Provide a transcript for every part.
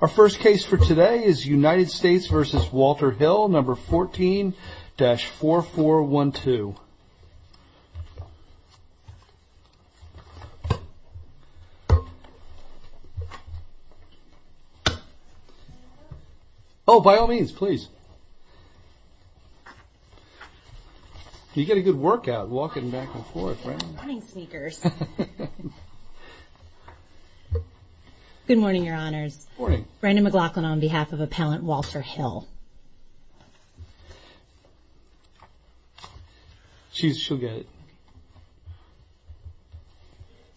Our first case for today is United States v. Walter Hill, No. 14-4412. Oh, by all means, please. You get a good workout walking back and forth, right? Good morning, sneakers. Good morning, your honors. Good morning. Brandon McLaughlin on behalf of Appellant Walter Hill. She'll get it.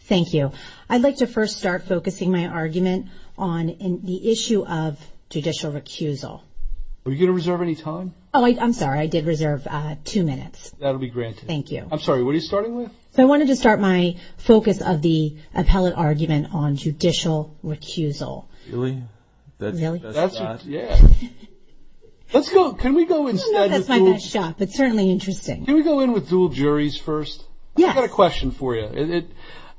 Thank you. I'd like to first start focusing my argument on the issue of judicial recusal. Were you going to reserve any time? Oh, I'm sorry. I did reserve two minutes. That'll be granted. Thank you. I'm sorry. What are you starting with? I wanted to start my focus of the appellate argument on judicial recusal. Really? Really? Yeah. Let's go. Can we go instead? I don't know if that's my best shot, but certainly interesting. Can we go in with dual juries first? Yes. I've got a question for you.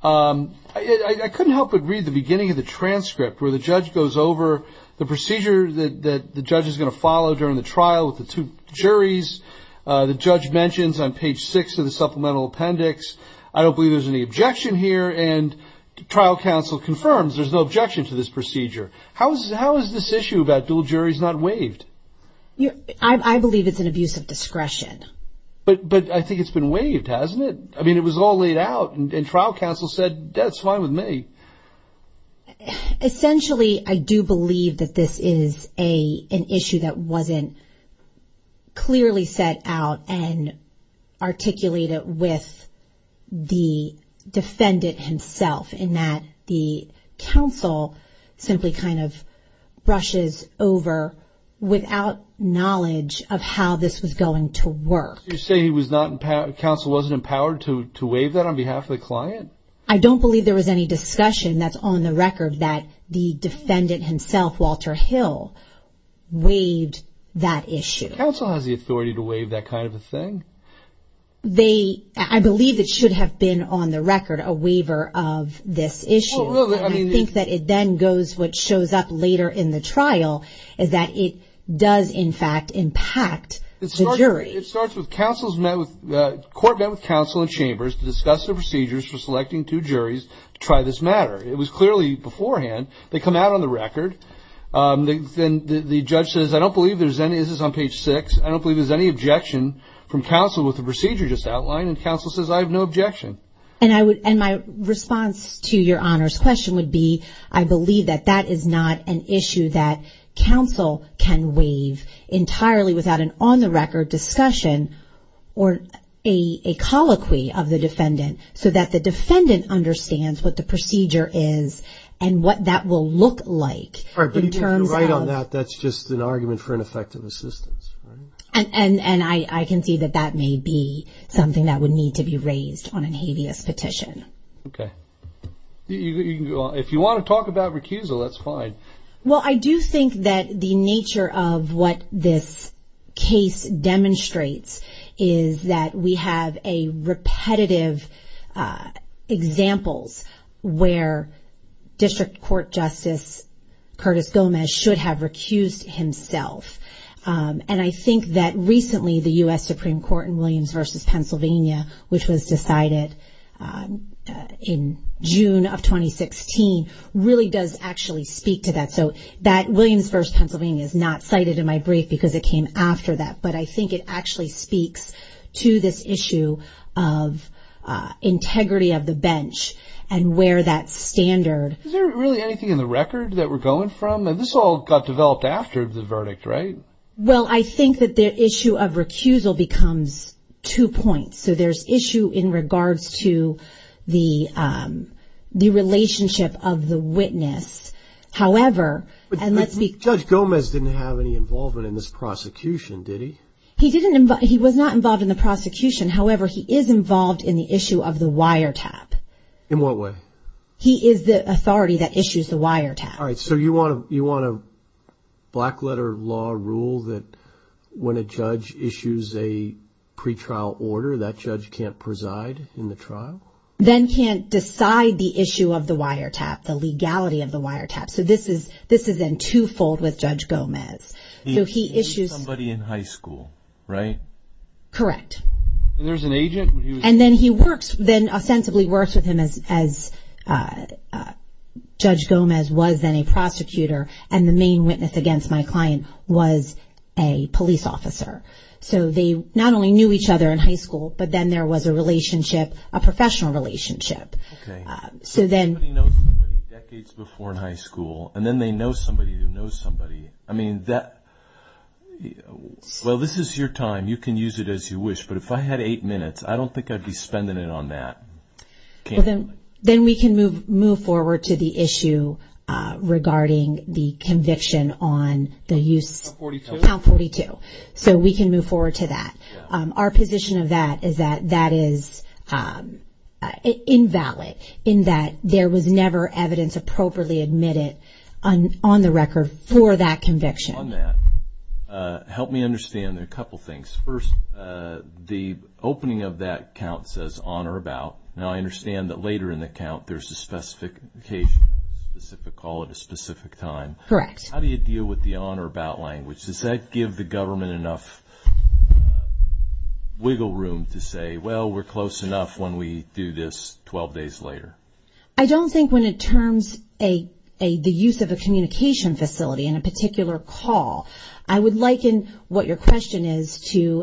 I couldn't help but read the beginning of the transcript where the judge goes over the procedure that the judge is going to follow during the trial with the two juries. The judge mentions on page six of the supplemental appendix, I don't believe there's any objection here, and trial counsel confirms there's no objection to this procedure. How is this issue about dual juries not waived? I believe it's an abuse of discretion. But I think it's been waived, hasn't it? I mean, it was all laid out, and trial counsel said, that's fine with me. Essentially, I do believe that this is an issue that wasn't clearly set out and articulated with the defendant himself, in that the counsel simply kind of brushes over without knowledge of how this was going to work. You're saying counsel wasn't empowered to waive that on behalf of the client? I don't believe there was any discussion that's on the record that the defendant himself, Walter Hill, waived that issue. Counsel has the authority to waive that kind of a thing? I believe it should have been on the record a waiver of this issue. I think that it then goes, which shows up later in the trial, is that it does, in fact, impact the jury. It starts with, the court met with counsel and chambers to discuss the procedures for selecting two juries to try this matter. It was clearly beforehand. They come out on the record. Then the judge says, I don't believe there's any, this is on page six, I don't believe there's any objection from counsel with the procedure just outlined. And counsel says, I have no objection. And my response to your Honor's question would be, I believe that that is not an issue that counsel can waive entirely without an on-the-record discussion or a colloquy of the defendant so that the defendant understands what the procedure is and what that will look like. But if you're right on that, that's just an argument for ineffective assistance. And I can see that that may be something that would need to be raised on a habeas petition. Okay. If you want to talk about recusal, that's fine. Well, I do think that the nature of what this case demonstrates is that we have repetitive examples where District Court Justice Curtis Gomez should have recused himself. And I think that recently the U.S. Supreme Court in Williams v. Pennsylvania, which was decided in June of 2016, really does actually speak to that. So that Williams v. Pennsylvania is not cited in my brief because it came after that. But I think it actually speaks to this issue of integrity of the bench and where that standard. Is there really anything in the record that we're going from? I mean, this all got developed after the verdict, right? Well, I think that the issue of recusal becomes two points. So there's issue in regards to the relationship of the witness. However, and let's be clear. Judge Gomez didn't have any involvement in this prosecution, did he? He didn't. He was not involved in the prosecution. However, he is involved in the issue of the wiretap. In what way? He is the authority that issues the wiretap. All right. So you want a black-letter law rule that when a judge issues a pretrial order, that judge can't preside in the trial? Then can't decide the issue of the wiretap, the legality of the wiretap. So this is in two-fold with Judge Gomez. He issued somebody in high school, right? Correct. And there's an agent? And then he works, then ostensibly works with him as Judge Gomez was then a prosecutor, and the main witness against my client was a police officer. So they not only knew each other in high school, but then there was a relationship, a professional relationship. Okay. So then. Nobody knows somebody decades before in high school, and then they know somebody who knows somebody. I mean, well, this is your time. You can use it as you wish. But if I had eight minutes, I don't think I'd be spending it on that. Then we can move forward to the issue regarding the conviction on the use. Count 42. Count 42. So we can move forward to that. Our position of that is that that is invalid, in that there was never evidence appropriately admitted on the record for that conviction. On that. Help me understand a couple things. First, the opening of that count says on or about. Now, I understand that later in the count there's a specific occasion, a specific call at a specific time. Correct. How do you deal with the on or about language? Does that give the government enough wiggle room to say, well, we're close enough when we do this 12 days later? I don't think when it terms the use of a communication facility in a particular call, I would liken what your question is to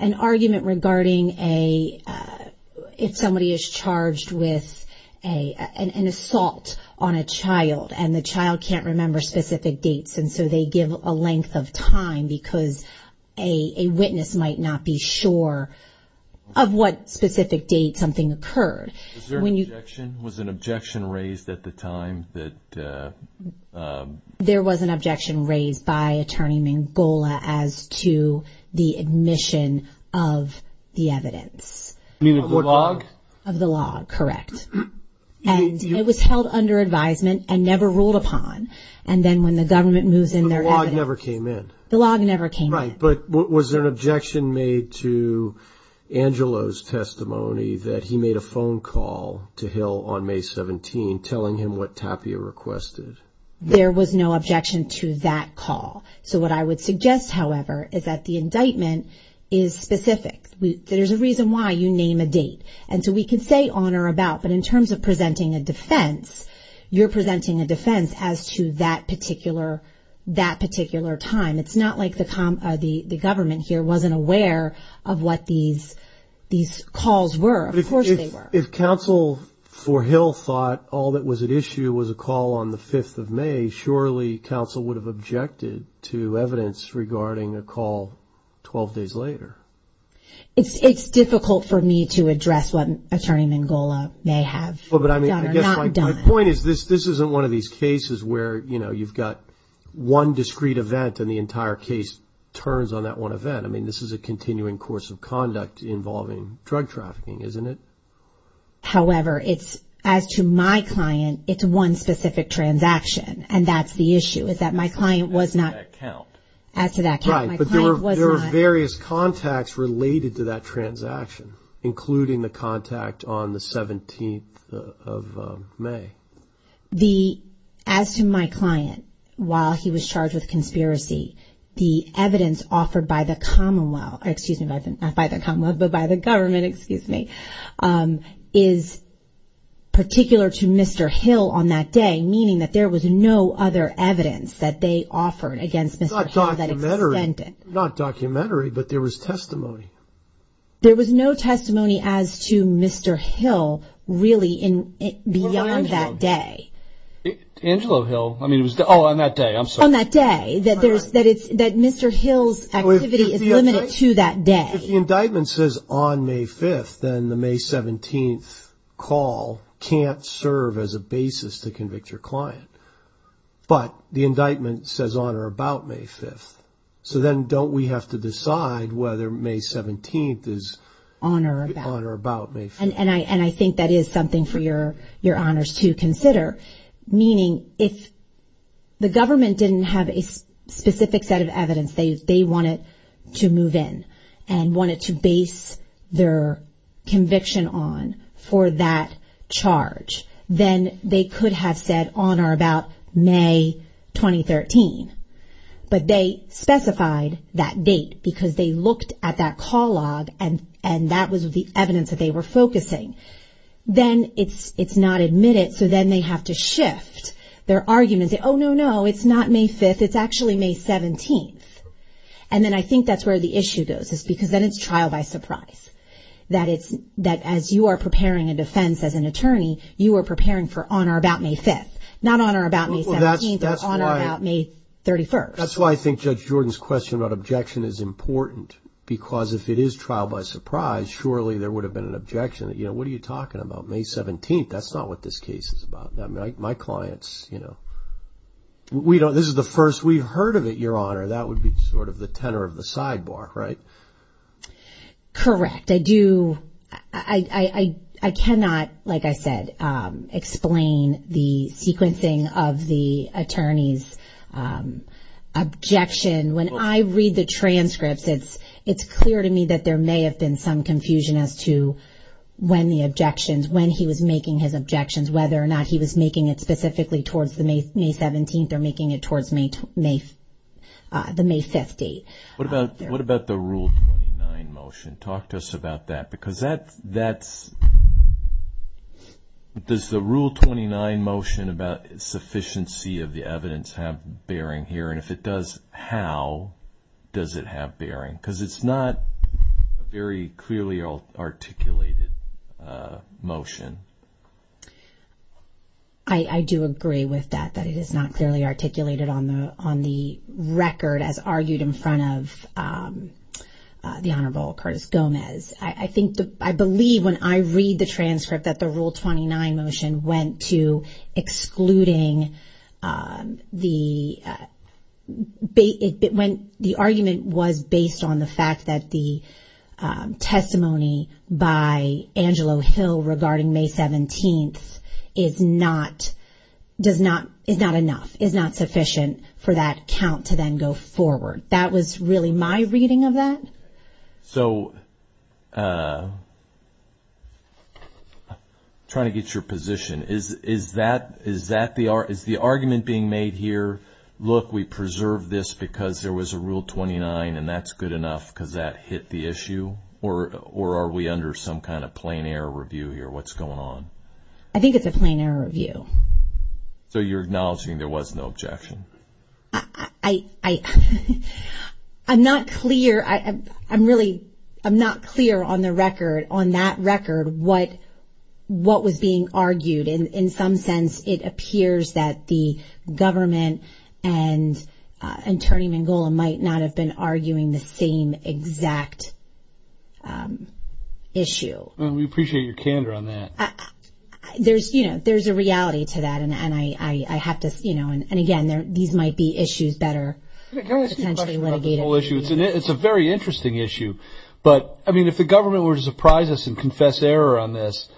an argument regarding if somebody is charged with an assault on a child and the child can't remember specific dates, and so they give a length of time because a witness might not be sure of what specific date something occurred. Was there an objection raised at the time? There was an objection raised by Attorney Mangola as to the admission of the evidence. You mean of the log? Of the log, correct. And it was held under advisement and never ruled upon. And then when the government moves in their evidence. The log never came in. The log never came in. Right, but was there an objection made to Angelo's testimony that he made a phone call to Hill on May 17, telling him what Tapia requested? There was no objection to that call. So what I would suggest, however, is that the indictment is specific. There's a reason why you name a date. And so we can say on or about, but in terms of presenting a defense, you're presenting a defense as to that particular time. It's not like the government here wasn't aware of what these calls were. Of course they were. If counsel for Hill thought all that was at issue was a call on the 5th of May, surely counsel would have objected to evidence regarding a call 12 days later. It's difficult for me to address what Attorney Mangola may have done or not done. My point is this isn't one of these cases where, you know, you've got one discrete event and the entire case turns on that one event. I mean, this is a continuing course of conduct involving drug trafficking, isn't it? However, as to my client, it's one specific transaction, and that's the issue, is that my client was not. As to that count. As to that count, my client was not. Right, but there were various contacts related to that transaction, including the contact on the 17th of May. As to my client, while he was charged with conspiracy, the evidence offered by the Commonwealth, excuse me, not by the Commonwealth, but by the government, excuse me, is particular to Mr. Hill on that day, meaning that there was no other evidence that they offered against Mr. Hill that extended. Not documentary, but there was testimony. There was no testimony as to Mr. Hill really beyond that day. Angelo Hill, I mean, it was on that day, I'm sorry. On that day, that Mr. Hill's activity is limited to that day. If the indictment says on May 5th, then the May 17th call can't serve as a basis to convict your client. But the indictment says on or about May 5th, so then don't we have to decide whether May 17th is on or about May 5th? And I think that is something for your honors to consider, meaning if the government didn't have a specific set of evidence they wanted to move in and wanted to base their conviction on for that charge, then they could have said on or about May 2013. But they specified that date because they looked at that call log and that was the evidence that they were focusing. Then it's not admitted, so then they have to shift their argument and say, oh, no, no, it's not May 5th, it's actually May 17th. And then I think that's where the issue goes is because then it's trial by surprise. That as you are preparing a defense as an attorney, you are preparing for on or about May 5th, not on or about May 17th or on or about May 31st. That's why I think Judge Jordan's question about objection is important because if it is trial by surprise, surely there would have been an objection that, you know, what are you talking about, May 17th? That's not what this case is about. My clients, you know, this is the first we've heard of it, your honor. That would be sort of the tenor of the sidebar, right? Correct. I do, I cannot, like I said, explain the sequencing of the attorney's objection. When I read the transcripts, it's clear to me that there may have been some confusion as to when the objections, when he was making his objections, whether or not he was making it specifically towards the May 17th or making it towards the May 5th date. What about the Rule 29 motion? Talk to us about that because that's, does the Rule 29 motion about sufficiency of the evidence have bearing here? And if it does, how does it have bearing? Because it's not a very clearly articulated motion. I do agree with that, that it is not clearly articulated on the record as argued in front of the Honorable Curtis Gomez. I believe when I read the transcript that the Rule 29 motion went to excluding the, the argument was based on the fact that the testimony by Angelo Hill regarding May 17th is not, is not enough, is not sufficient for that count to then go forward. That was really my reading of that. So, trying to get your position. Is that, is that the, is the argument being made here, look we preserved this because there was a Rule 29 and that's good enough because that hit the issue? Or are we under some kind of plain error review here? What's going on? I think it's a plain error review. So you're acknowledging there was no objection? I'm not clear. I'm really, I'm not clear on the record, on that record what, what was being argued. In some sense it appears that the government and Attorney Mangola might not have been arguing the same exact issue. We appreciate your candor on that. There's, you know, there's a reality to that. And I have to, you know, and again, these might be issues better potentially litigated. It's a very interesting issue. But, I mean, if the government were to surprise us and confess error on this,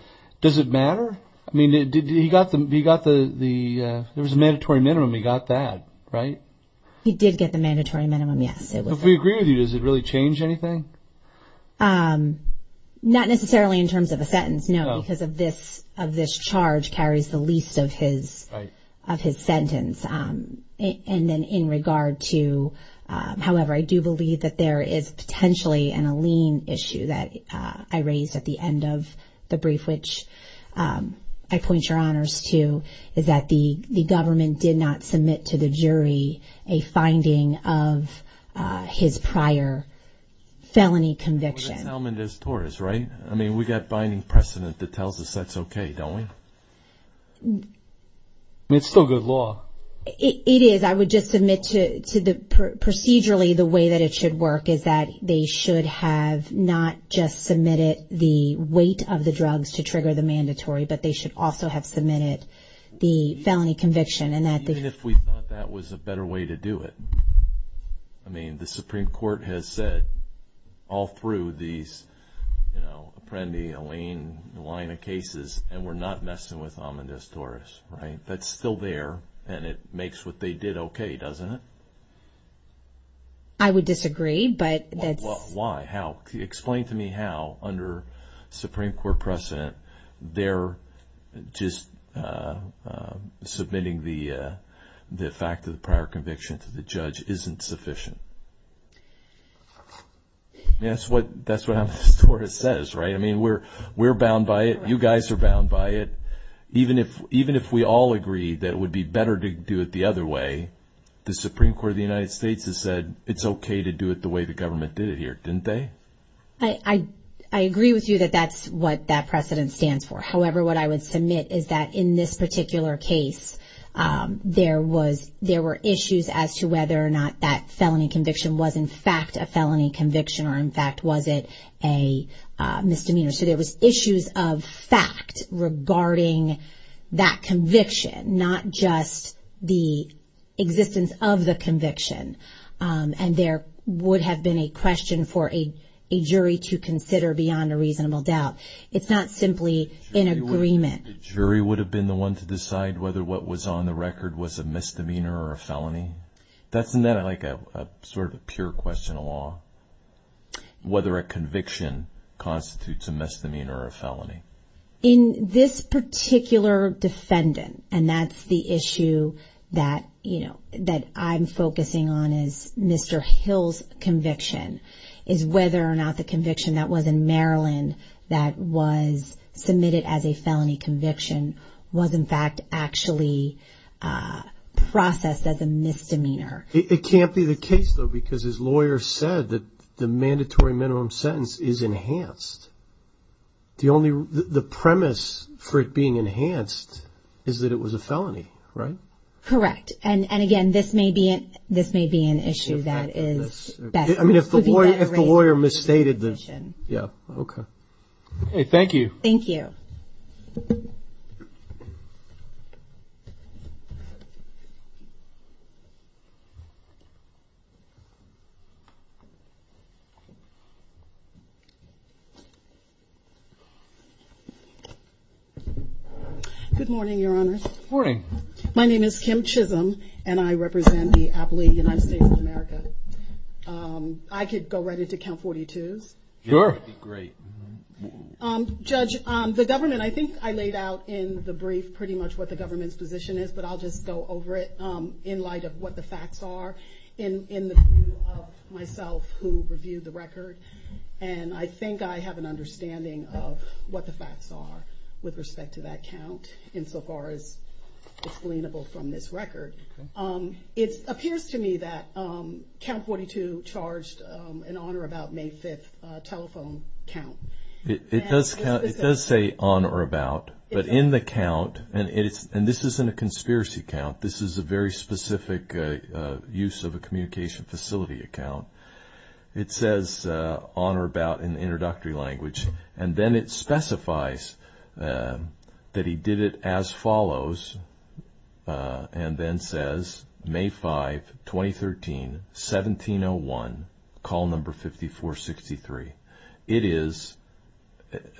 does it matter? I mean, he got the, there was a mandatory minimum, he got that, right? He did get the mandatory minimum, yes. If we agree with you, does it really change anything? Not necessarily in terms of a sentence, no. Because of this, of this charge carries the least of his, of his sentence. And then in regard to, however, I do believe that there is potentially an Alene issue that I raised at the end of the brief, which I point your honors to, is that the government did not submit to the jury a finding of his prior felony conviction. That's Almendiz-Torres, right? I mean, we've got binding precedent that tells us that's okay, don't we? I mean, it's still good law. It is. I would just submit to the, procedurally the way that it should work is that they should have not just submitted the weight of the drugs to trigger the mandatory, but they should also have submitted the felony conviction. Even if we thought that was a better way to do it. I mean, the Supreme Court has said all through these, you know, Apprendi, Alene, the line of cases, and we're not messing with Almendiz-Torres, right? That's still there, and it makes what they did okay, doesn't it? I would disagree, but that's... Why? How? Explain to me how, under Supreme Court precedent, they're just submitting the fact of the prior conviction to the judge isn't sufficient. That's what Almendiz-Torres says, right? I mean, we're bound by it. You guys are bound by it. Even if we all agree that it would be better to do it the other way, the Supreme Court of the United States has said it's okay to do it the way the government did it here, didn't they? I agree with you that that's what that precedent stands for. However, what I would submit is that in this particular case, there were issues as to whether or not that felony conviction was in fact a felony conviction or in fact was it a misdemeanor. So there was issues of fact regarding that conviction, not just the existence of the conviction. And there would have been a question for a jury to consider beyond a reasonable doubt. It's not simply an agreement. The jury would have been the one to decide whether what was on the record was a misdemeanor or a felony? That's not like a sort of pure question of law, whether a conviction constitutes a misdemeanor or a felony. In this particular defendant, and that's the issue that I'm focusing on as Mr. Hill's conviction, is whether or not the conviction that was in Maryland that was submitted as a felony conviction was in fact actually processed as a misdemeanor. It can't be the case, though, because his lawyer said that the mandatory minimum sentence is enhanced. The premise for it being enhanced is that it was a felony, right? Correct. And, again, this may be an issue that is better. I mean, if the lawyer misstated the, yeah, okay. Okay, thank you. Thank you. Good morning, Your Honor. Good morning. My name is Kim Chisholm, and I represent the Appalachian United States of America. I could go right into count 42s. Sure. That would be great. Judge, the government, I think I laid out in the brief pretty much what the government's position is, but I'll just go over it in light of what the facts are in the view of myself who reviewed the record. And I think I have an understanding of what the facts are with respect to that count insofar as explainable from this record. Okay. It appears to me that count 42 charged an on or about May 5th telephone count. It does say on or about, but in the count, and this isn't a conspiracy count. This is a very specific use of a communication facility account. It says on or about in introductory language, and then it specifies that he did it as follows, and then says May 5, 2013, 1701, call number 5463. It is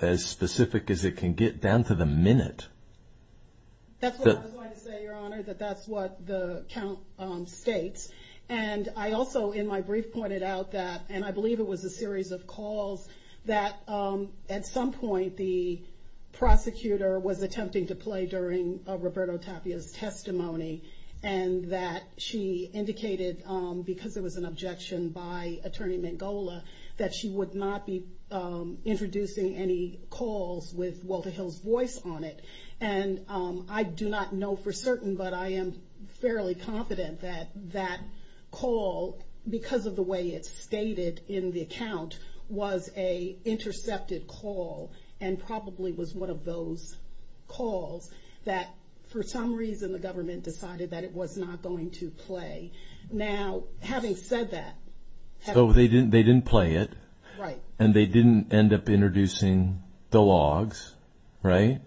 as specific as it can get down to the minute. That's what I was going to say, Your Honor, that that's what the count states. And I also, in my brief, pointed out that, and I believe it was a series of calls, that at some point the prosecutor was attempting to play during Roberto Tapia's testimony, and that she indicated, because it was an objection by Attorney Mangola, that she would not be introducing any calls with Walter Hill's voice on it. And I do not know for certain, but I am fairly confident that that call, because of the way it's stated in the account, was a intercepted call, and probably was one of those calls that, for some reason, the government decided that it was not going to play. Now, having said that, So they didn't play it, and they didn't end up introducing the logs, right?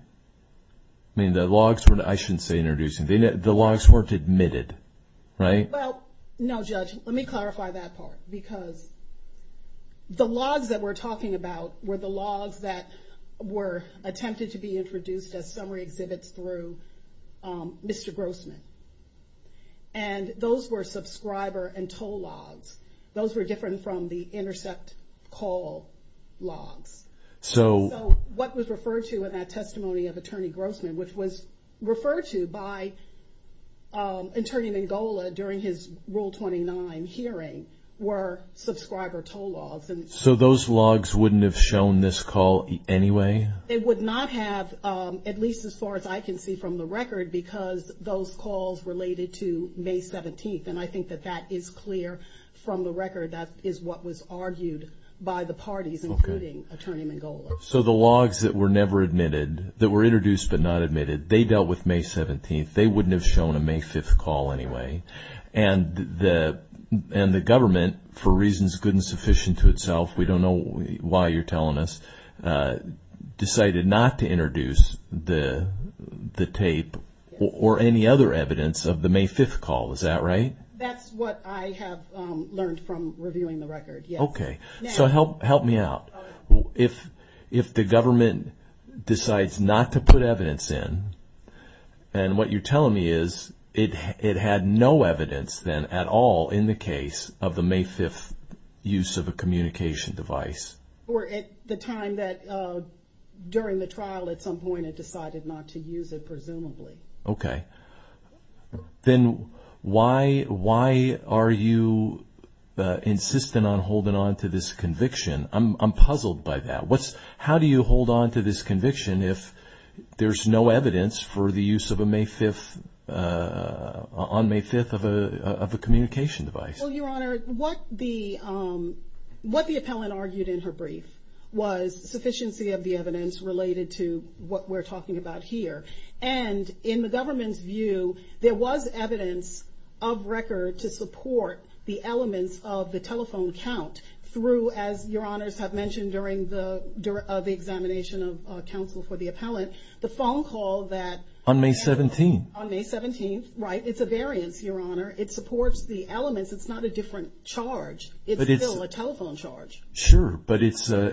I mean, the logs were, I shouldn't say introducing. The logs weren't admitted, right? Well, no, Judge, let me clarify that part, because the logs that we're talking about were the logs that were attempted to be introduced as summary exhibits through Mr. Grossman. And those were subscriber and toll logs. Those were different from the intercept call logs. So what was referred to in that testimony of Attorney Grossman, which was referred to by Attorney Mangola during his Rule 29 hearing, were subscriber toll logs. So those logs wouldn't have shown this call anyway? They would not have, at least as far as I can see from the record, because those calls related to May 17th. And I think that that is clear from the record. That is what was argued by the parties, including Attorney Mangola. So the logs that were never admitted, that were introduced but not admitted, they dealt with May 17th. They wouldn't have shown a May 5th call anyway. And the government, for reasons good and sufficient to itself, we don't know why you're telling us, decided not to introduce the tape or any other evidence of the May 5th call. Is that right? That's what I have learned from reviewing the record, yes. Okay. So help me out. If the government decides not to put evidence in, and what you're telling me is it had no evidence then at all in the case of the May 5th use of a communication device. Or at the time that, during the trial at some point, it decided not to use it, presumably. Okay. Then why are you insistent on holding on to this conviction? I'm puzzled by that. How do you hold on to this conviction if there's no evidence for the use on May 5th of a communication device? Well, Your Honor, what the appellant argued in her brief was sufficiency of the evidence related to what we're talking about here. And in the government's view, there was evidence of record to support the elements of the telephone count through, as Your Honors have mentioned, during the examination of counsel for the appellant, the phone call that- On May 17th. On May 17th, right. It's a variance, Your Honor. It supports the elements. It's not a different charge. It's still a telephone charge. But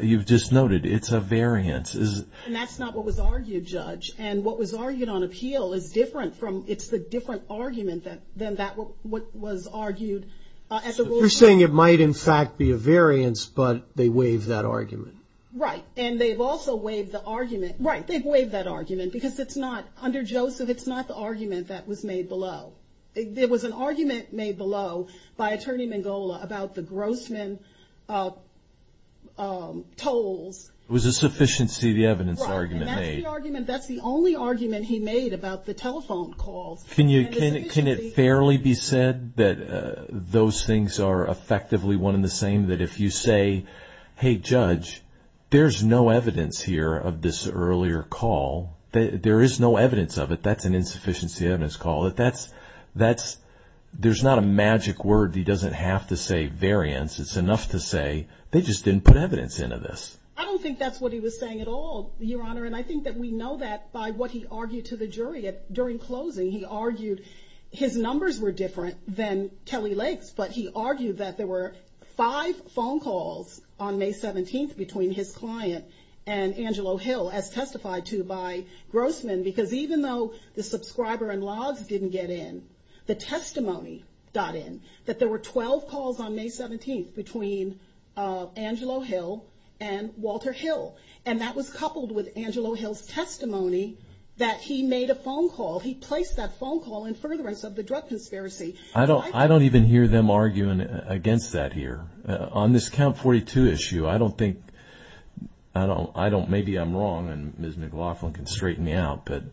you've just noted it's a variance. And that's not what was argued, Judge. And what was argued on appeal is different from- It's the different argument than what was argued at the ruling. So you're saying it might, in fact, be a variance, but they waived that argument. Right. And they've also waived the argument- Right. They've waived that argument because it's not- Under Joseph, it's not the argument that was made below. There was an argument made below by Attorney Mangola about the Grossman tolls. It was a sufficiency of the evidence argument made. That's the only argument he made about the telephone calls. Can it fairly be said that those things are effectively one and the same? That if you say, hey, Judge, there's no evidence here of this earlier call, there is no evidence of it, that's an insufficiency of evidence call. There's not a magic word. He doesn't have to say variance. It's enough to say they just didn't put evidence into this. And I think that we know that by what he argued to the jury during closing. He argued his numbers were different than Kelly Lake's, but he argued that there were five phone calls on May 17th between his client and Angelo Hill, as testified to by Grossman, because even though the subscriber and logs didn't get in, the testimony got in, that there were 12 calls on May 17th between Angelo Hill and Walter Hill. And that was coupled with Angelo Hill's testimony that he made a phone call. He placed that phone call in furtherance of the drug conspiracy. I don't even hear them arguing against that here. On this Count 42 issue, I don't think, maybe I'm wrong, and Ms. McLaughlin can straighten me out, but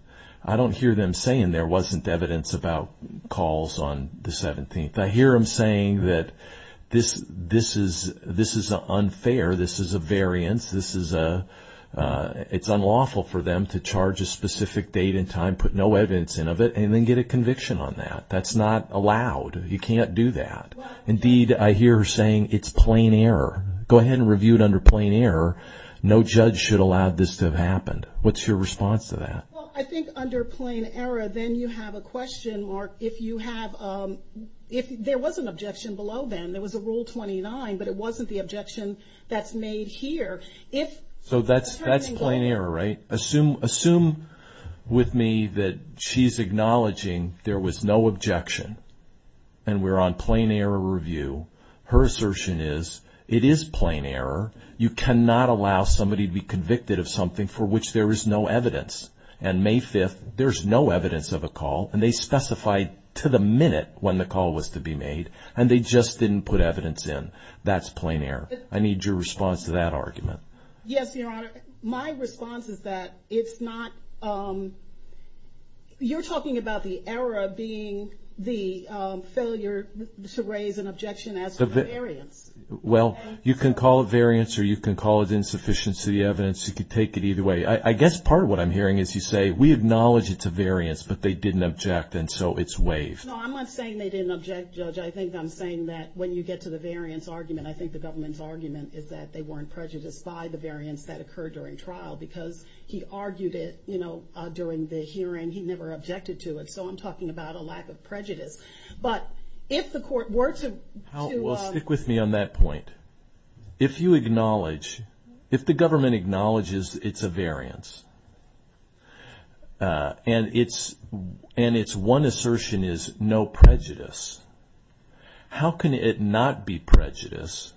I don't hear them saying there wasn't evidence about calls on the 17th. I hear them saying that this is unfair, this is a variance, it's unlawful for them to charge a specific date and time, put no evidence in of it, and then get a conviction on that. That's not allowed. You can't do that. Indeed, I hear her saying it's plain error. Go ahead and review it under plain error. No judge should allow this to have happened. What's your response to that? Well, I think under plain error, then you have a question, Mark, if there was an objection below then. There was a Rule 29, but it wasn't the objection that's made here. So that's plain error, right? Assume with me that she's acknowledging there was no objection, and we're on plain error review. Her assertion is it is plain error. You cannot allow somebody to be convicted of something for which there is no evidence. And May 5th, there's no evidence of a call, and they specified to the minute when the call was to be made, and they just didn't put evidence in. That's plain error. I need your response to that argument. Yes, Your Honor. My response is that it's not... You're talking about the error being the failure to raise an objection as to the variance. Well, you can call it variance, or you can call it insufficiency evidence. You can take it either way. I guess part of what I'm hearing is you say, we acknowledge it's a variance, but they didn't object, and so it's waived. No, I'm not saying they didn't object, Judge. I think I'm saying that when you get to the variance argument, I think the government's argument is that they weren't prejudiced by the variance that occurred during trial because he argued it during the hearing. He never objected to it, so I'm talking about a lack of prejudice. But if the court were to... Well, stick with me on that point. If you acknowledge, if the government acknowledges it's a variance, and its one assertion is no prejudice, how can it not be prejudice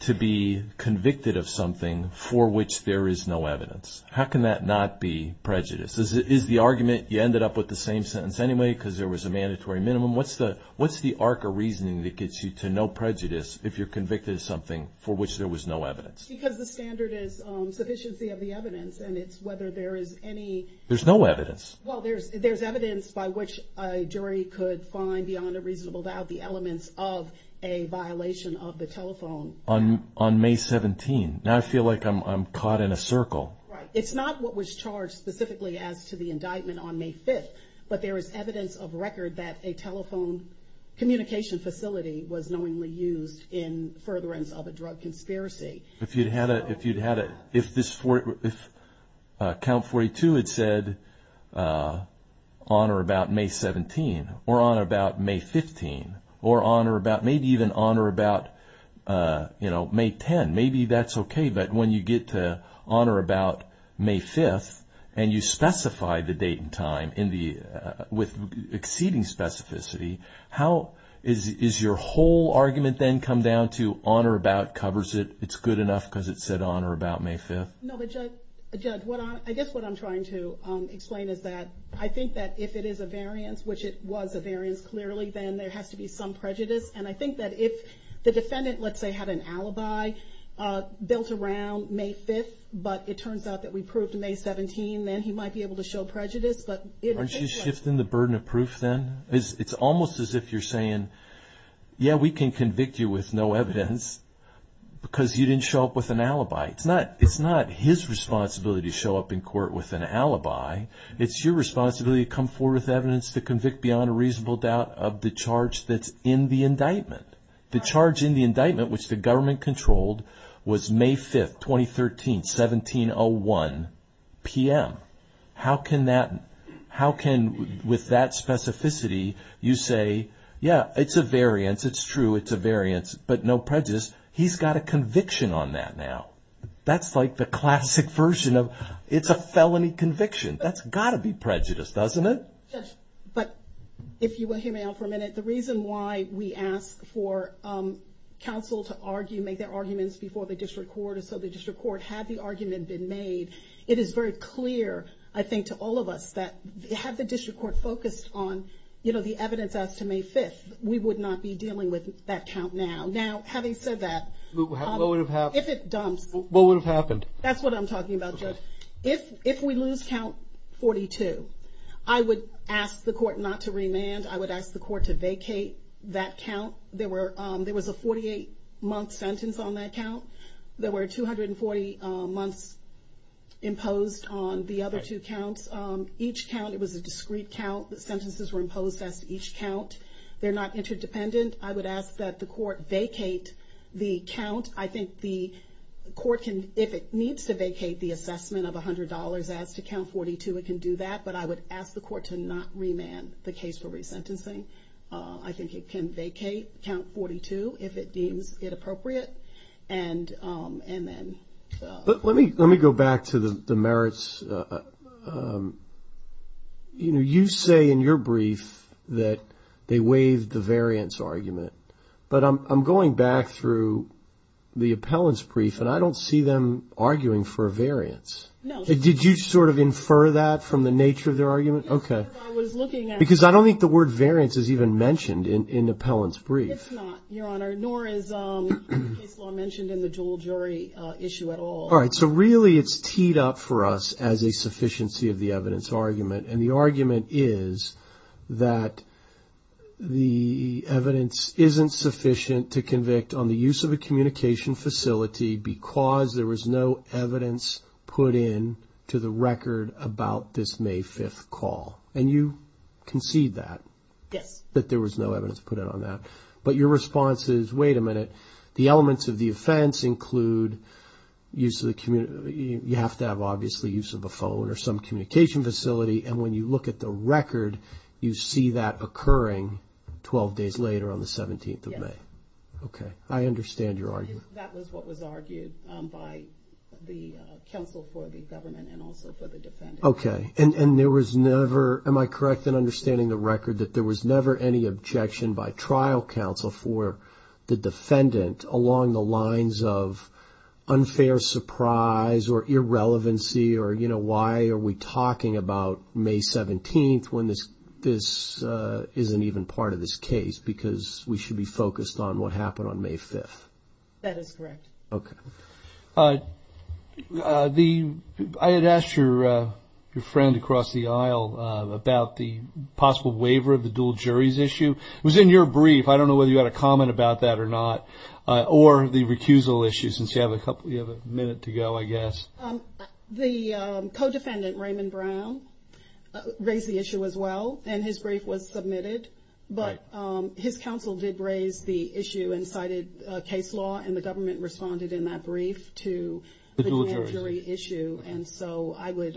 to be convicted of something for which there is no evidence? How can that not be prejudice? Is the argument you ended up with the same sentence anyway because there was a mandatory minimum? What's the arc of reasoning that gets you to no prejudice if you're convicted of something for which there was no evidence? Because the standard is sufficiency of the evidence, and it's whether there is any... There's no evidence. Well, there's evidence by which a jury could find beyond a reasonable doubt the elements of a violation of the telephone... On May 17th. Now I feel like I'm caught in a circle. Right. It's not what was charged specifically as to the indictment on May 5th, but there is evidence of record that a telephone communication facility was knowingly used in furtherance of a drug conspiracy. If you'd had a... if this... if Count 42 had said, honor about May 17, or honor about May 15, or honor about... maybe even honor about, you know, May 10. Maybe that's okay, but when you get to honor about May 5th, and you specify the date and time in the... with exceeding specificity, how is your whole argument then come down to honor about covers it, it's good enough because it said honor about May 5th? No, but Judge, I guess what I'm trying to explain is that I think that if it is a variance, which it was a variance clearly, then there has to be some prejudice. And I think that if the defendant, let's say, had an alibi built around May 5th, but it turns out that we proved May 17, then he might be able to show prejudice. Aren't you shifting the burden of proof then? It's almost as if you're saying, yeah, we can convict you with no evidence because you didn't show up with an alibi. It's not his responsibility to show up in court with an alibi. It's your responsibility to come forward with evidence to convict beyond a reasonable doubt of the charge that's in the indictment. The charge in the indictment, which the government controlled, was May 5th, 2013, 1701 p.m. How can, with that specificity, you say, yeah, it's a variance, it's true, it's a variance, but no prejudice. He's got a conviction on that now. That's like the classic version of, it's a felony conviction. That's got to be prejudice, doesn't it? Yes, but if you will hear me out for a minute, the reason why we ask for counsel to make their arguments before the district court had the argument been made, it is very clear, I think, to all of us that had the district court focused on the evidence as to May 5th, we would not be dealing with that count now. Now, having said that, if it dumps. What would have happened? That's what I'm talking about, Judge. If we lose count 42, I would ask the court not to remand. I would ask the court to vacate that count. There was a 48-month sentence on that count. There were 240 months imposed on the other two counts. Each count, it was a discrete count. The sentences were imposed as to each count. They're not interdependent. I would ask that the court vacate the count. I think the court can, if it needs to vacate the assessment of $100 as to count 42, it can do that. But I would ask the court to not remand the case for resentencing. I think it can vacate count 42 if it deems it appropriate. Let me go back to the merits. You say in your brief that they waived the variance argument. But I'm going back through the appellant's brief, and I don't see them arguing for a variance. No. Did you sort of infer that from the nature of their argument? Yes, because I was looking at it. Because I don't think the word variance is even mentioned in the appellant's brief. It's not, Your Honor, nor is case law mentioned in the dual jury issue at all. All right, so really it's teed up for us as a sufficiency of the evidence argument. And the argument is that the evidence isn't sufficient to convict on the use of a communication facility because there was no evidence put in to the record about this May 5th call. And you concede that. Yes. That there was no evidence put in on that. But your response is, wait a minute, the elements of the offense include use of the, you have to have obviously use of a phone or some communication facility. And when you look at the record, you see that occurring 12 days later on the 17th of May. Yes. Okay. I understand your argument. That was what was argued by the counsel for the government and also for the defendant. Okay. And there was never, am I correct in understanding the record, that there was never any objection by trial counsel for the defendant along the lines of unfair surprise or irrelevancy or, you know, why are we talking about May 17th when this isn't even part of this case because we should be focused on what happened on May 5th? That is correct. Okay. I had asked your friend across the aisle about the possible waiver of the dual juries issue. It was in your brief. I don't know whether you had a comment about that or not, or the recusal issue, since you have a minute to go, I guess. The co-defendant, Raymond Brown, raised the issue as well, and his brief was submitted. Right. But his counsel did raise the issue and cited case law, and the government responded in that brief to the dual jury issue, and so I would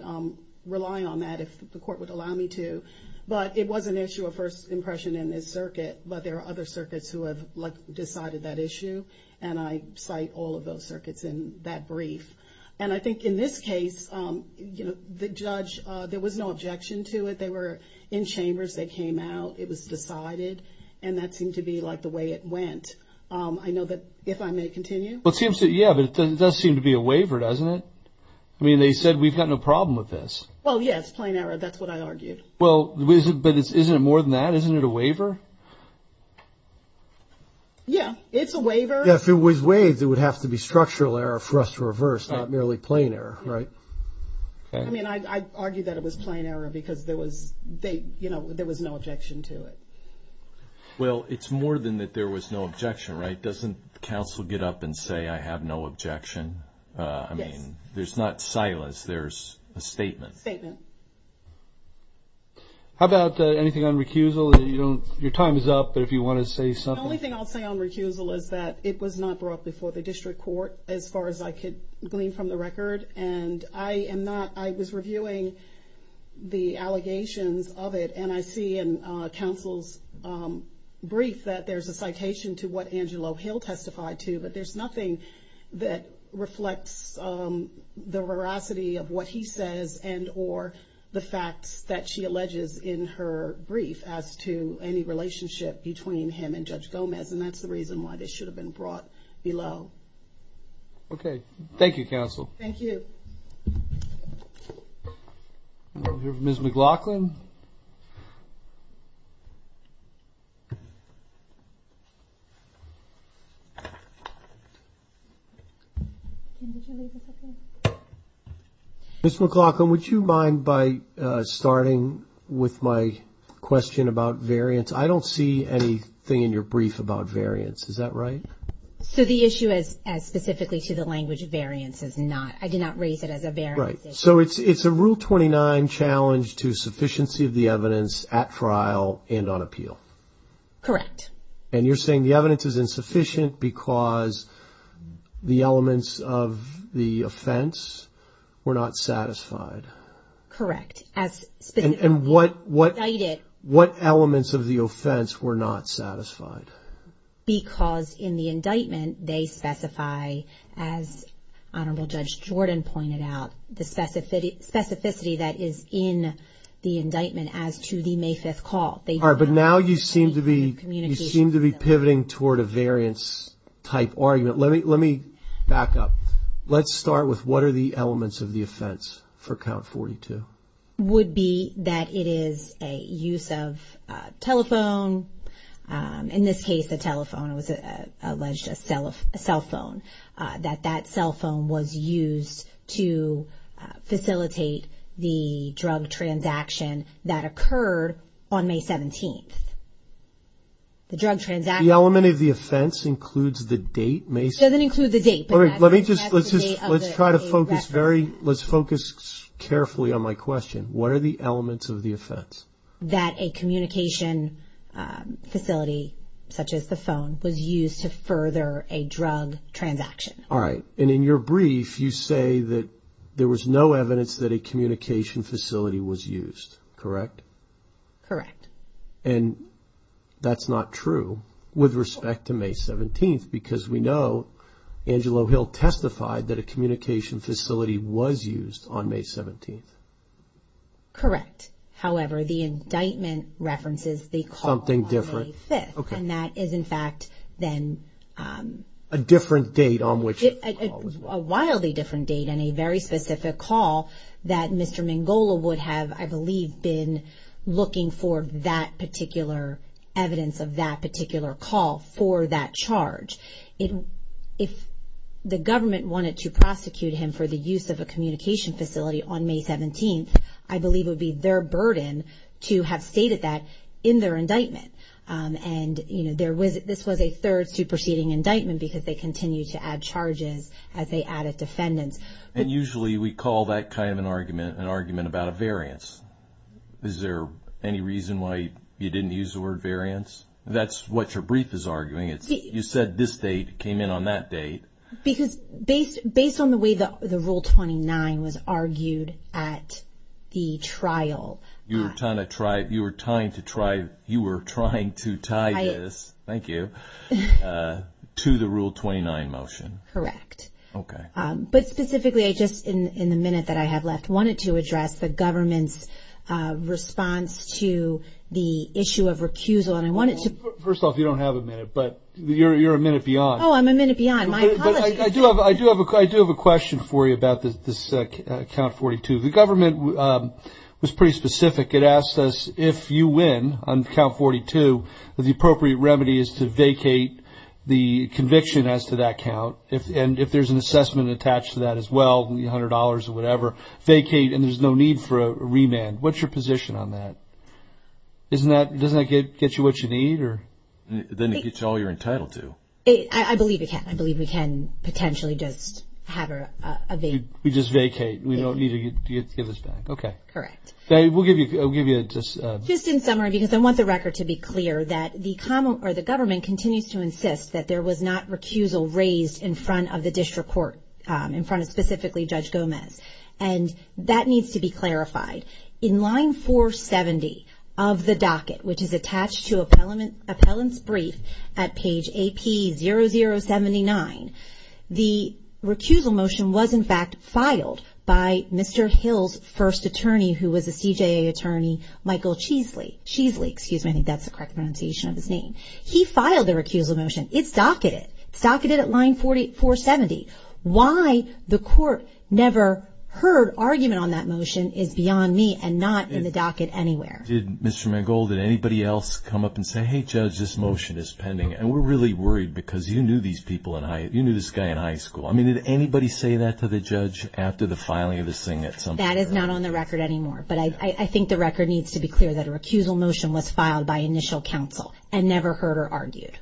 rely on that if the court would allow me to. But it was an issue of first impression in this circuit, but there are other circuits who have decided that issue, and I cite all of those circuits in that brief. And I think in this case, you know, the judge, there was no objection to it. They were in chambers. They came out. It was decided, and that seemed to be like the way it went. I know that if I may continue. Yeah, but it does seem to be a waiver, doesn't it? I mean, they said we've got no problem with this. Well, yeah, it's plain error. That's what I argued. Well, but isn't it more than that? Isn't it a waiver? Yeah, it's a waiver. Yeah, if it was waived, it would have to be structural error for us to reverse, not merely plain error, right? I mean, I argue that it was plain error because there was no objection to it. Well, it's more than that there was no objection, right? Doesn't counsel get up and say, I have no objection? Yes. I mean, there's not silence. There's a statement. Statement. How about anything on recusal? Your time is up, but if you want to say something. The only thing I'll say on recusal is that it was not brought before the district court, as far as I could glean from the record. I was reviewing the allegations of it, and I see in counsel's brief that there's a citation to what Angelo Hill testified to, but there's nothing that reflects the veracity of what he says and or the facts that she alleges in her brief as to any relationship between him and Judge Gomez, and that's the reason why this should have been brought below. Okay. Thank you, counsel. Thank you. Ms. McLaughlin. Ms. McLaughlin, would you mind by starting with my question about variance? I don't see anything in your brief about variance. Is that right? So the issue as specifically to the language of variance is not. I did not raise it as a variance issue. Right. So it's a Rule 29 challenge to sufficiency of the evidence at trial and on appeal. Correct. And you're saying the evidence is insufficient because the elements of the offense were not satisfied. Correct. And what elements of the offense were not satisfied? Because in the indictment they specify, as Honorable Judge Jordan pointed out, the specificity that is in the indictment as to the May 5th call. All right. But now you seem to be pivoting toward a variance-type argument. Let me back up. Let's start with what are the elements of the offense for Count 42? Would be that it is a use of telephone. In this case, the telephone was alleged a cell phone, that that cell phone was used to facilitate the drug transaction that occurred on May 17th. The drug transaction. The element of the offense includes the date, May 17th? It doesn't include the date. Let's try to focus carefully on my question. What are the elements of the offense? That a communication facility, such as the phone, was used to further a drug transaction. All right. And in your brief, you say that there was no evidence that a communication facility was used. Correct? Correct. And that's not true with respect to May 17th, because we know Angelo Hill testified that a communication facility was used on May 17th. Correct. However, the indictment references the call on May 5th. Something different. Okay. And that is, in fact, then… A different date on which the call was made. A wildly different date and a very specific call that Mr. Mangola would have, I believe, been looking for that particular evidence of that particular call for that charge. If the government wanted to prosecute him for the use of a communication facility on May 17th, I believe it would be their burden to have stated that in their indictment. And, you know, this was a third superseding indictment because they continued to add charges as they added defendants. And usually we call that kind of an argument an argument about a variance. Is there any reason why you didn't use the word variance? That's what your brief is arguing. You said this date came in on that date. Because based on the way the Rule 29 was argued at the trial… You were trying to try – you were trying to try – you were trying to tie this. Thank you. To the Rule 29 motion. Correct. Okay. But specifically, I just, in the minute that I have left, wanted to address the government's response to the issue of recusal. And I wanted to… First off, you don't have a minute, but you're a minute beyond. Oh, I'm a minute beyond. My apologies. I do have a question for you about this count 42. The government was pretty specific. It asked us if you win on count 42, the appropriate remedy is to vacate the conviction as to that count. And if there's an assessment attached to that as well, $100 or whatever, vacate and there's no need for a remand. What's your position on that? Doesn't that get you what you need? Then it gets you all you're entitled to. I believe it can. I believe we can potentially just have a vacate. We just vacate. We don't need to get this back. Okay. Correct. We'll give you a… Just in summary, because I want the record to be clear, that the government continues to insist that there was not recusal raised in front of the district court, in front of specifically Judge Gomez. And that needs to be clarified. In line 470 of the docket, which is attached to appellant's brief at page AP0079, the recusal motion was, in fact, filed by Mr. Hill's first attorney, who was a CJA attorney, Michael Cheesley. I think that's the correct pronunciation of his name. He filed the recusal motion. It's docketed. It's docketed at line 470. Why the court never heard argument on that motion is beyond me and not in the docket anywhere. Did Mr. Mangold, did anybody else come up and say, Hey, Judge, this motion is pending, and we're really worried because you knew this guy in high school. I mean, did anybody say that to the judge after the filing of this thing at some point? That is not on the record anymore. But I think the record needs to be clear that a recusal motion was filed by initial counsel and never heard or argued.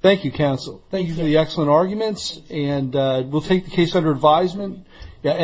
Thank you, counsel. Thank you for the excellent arguments. And we'll take the case under advisement.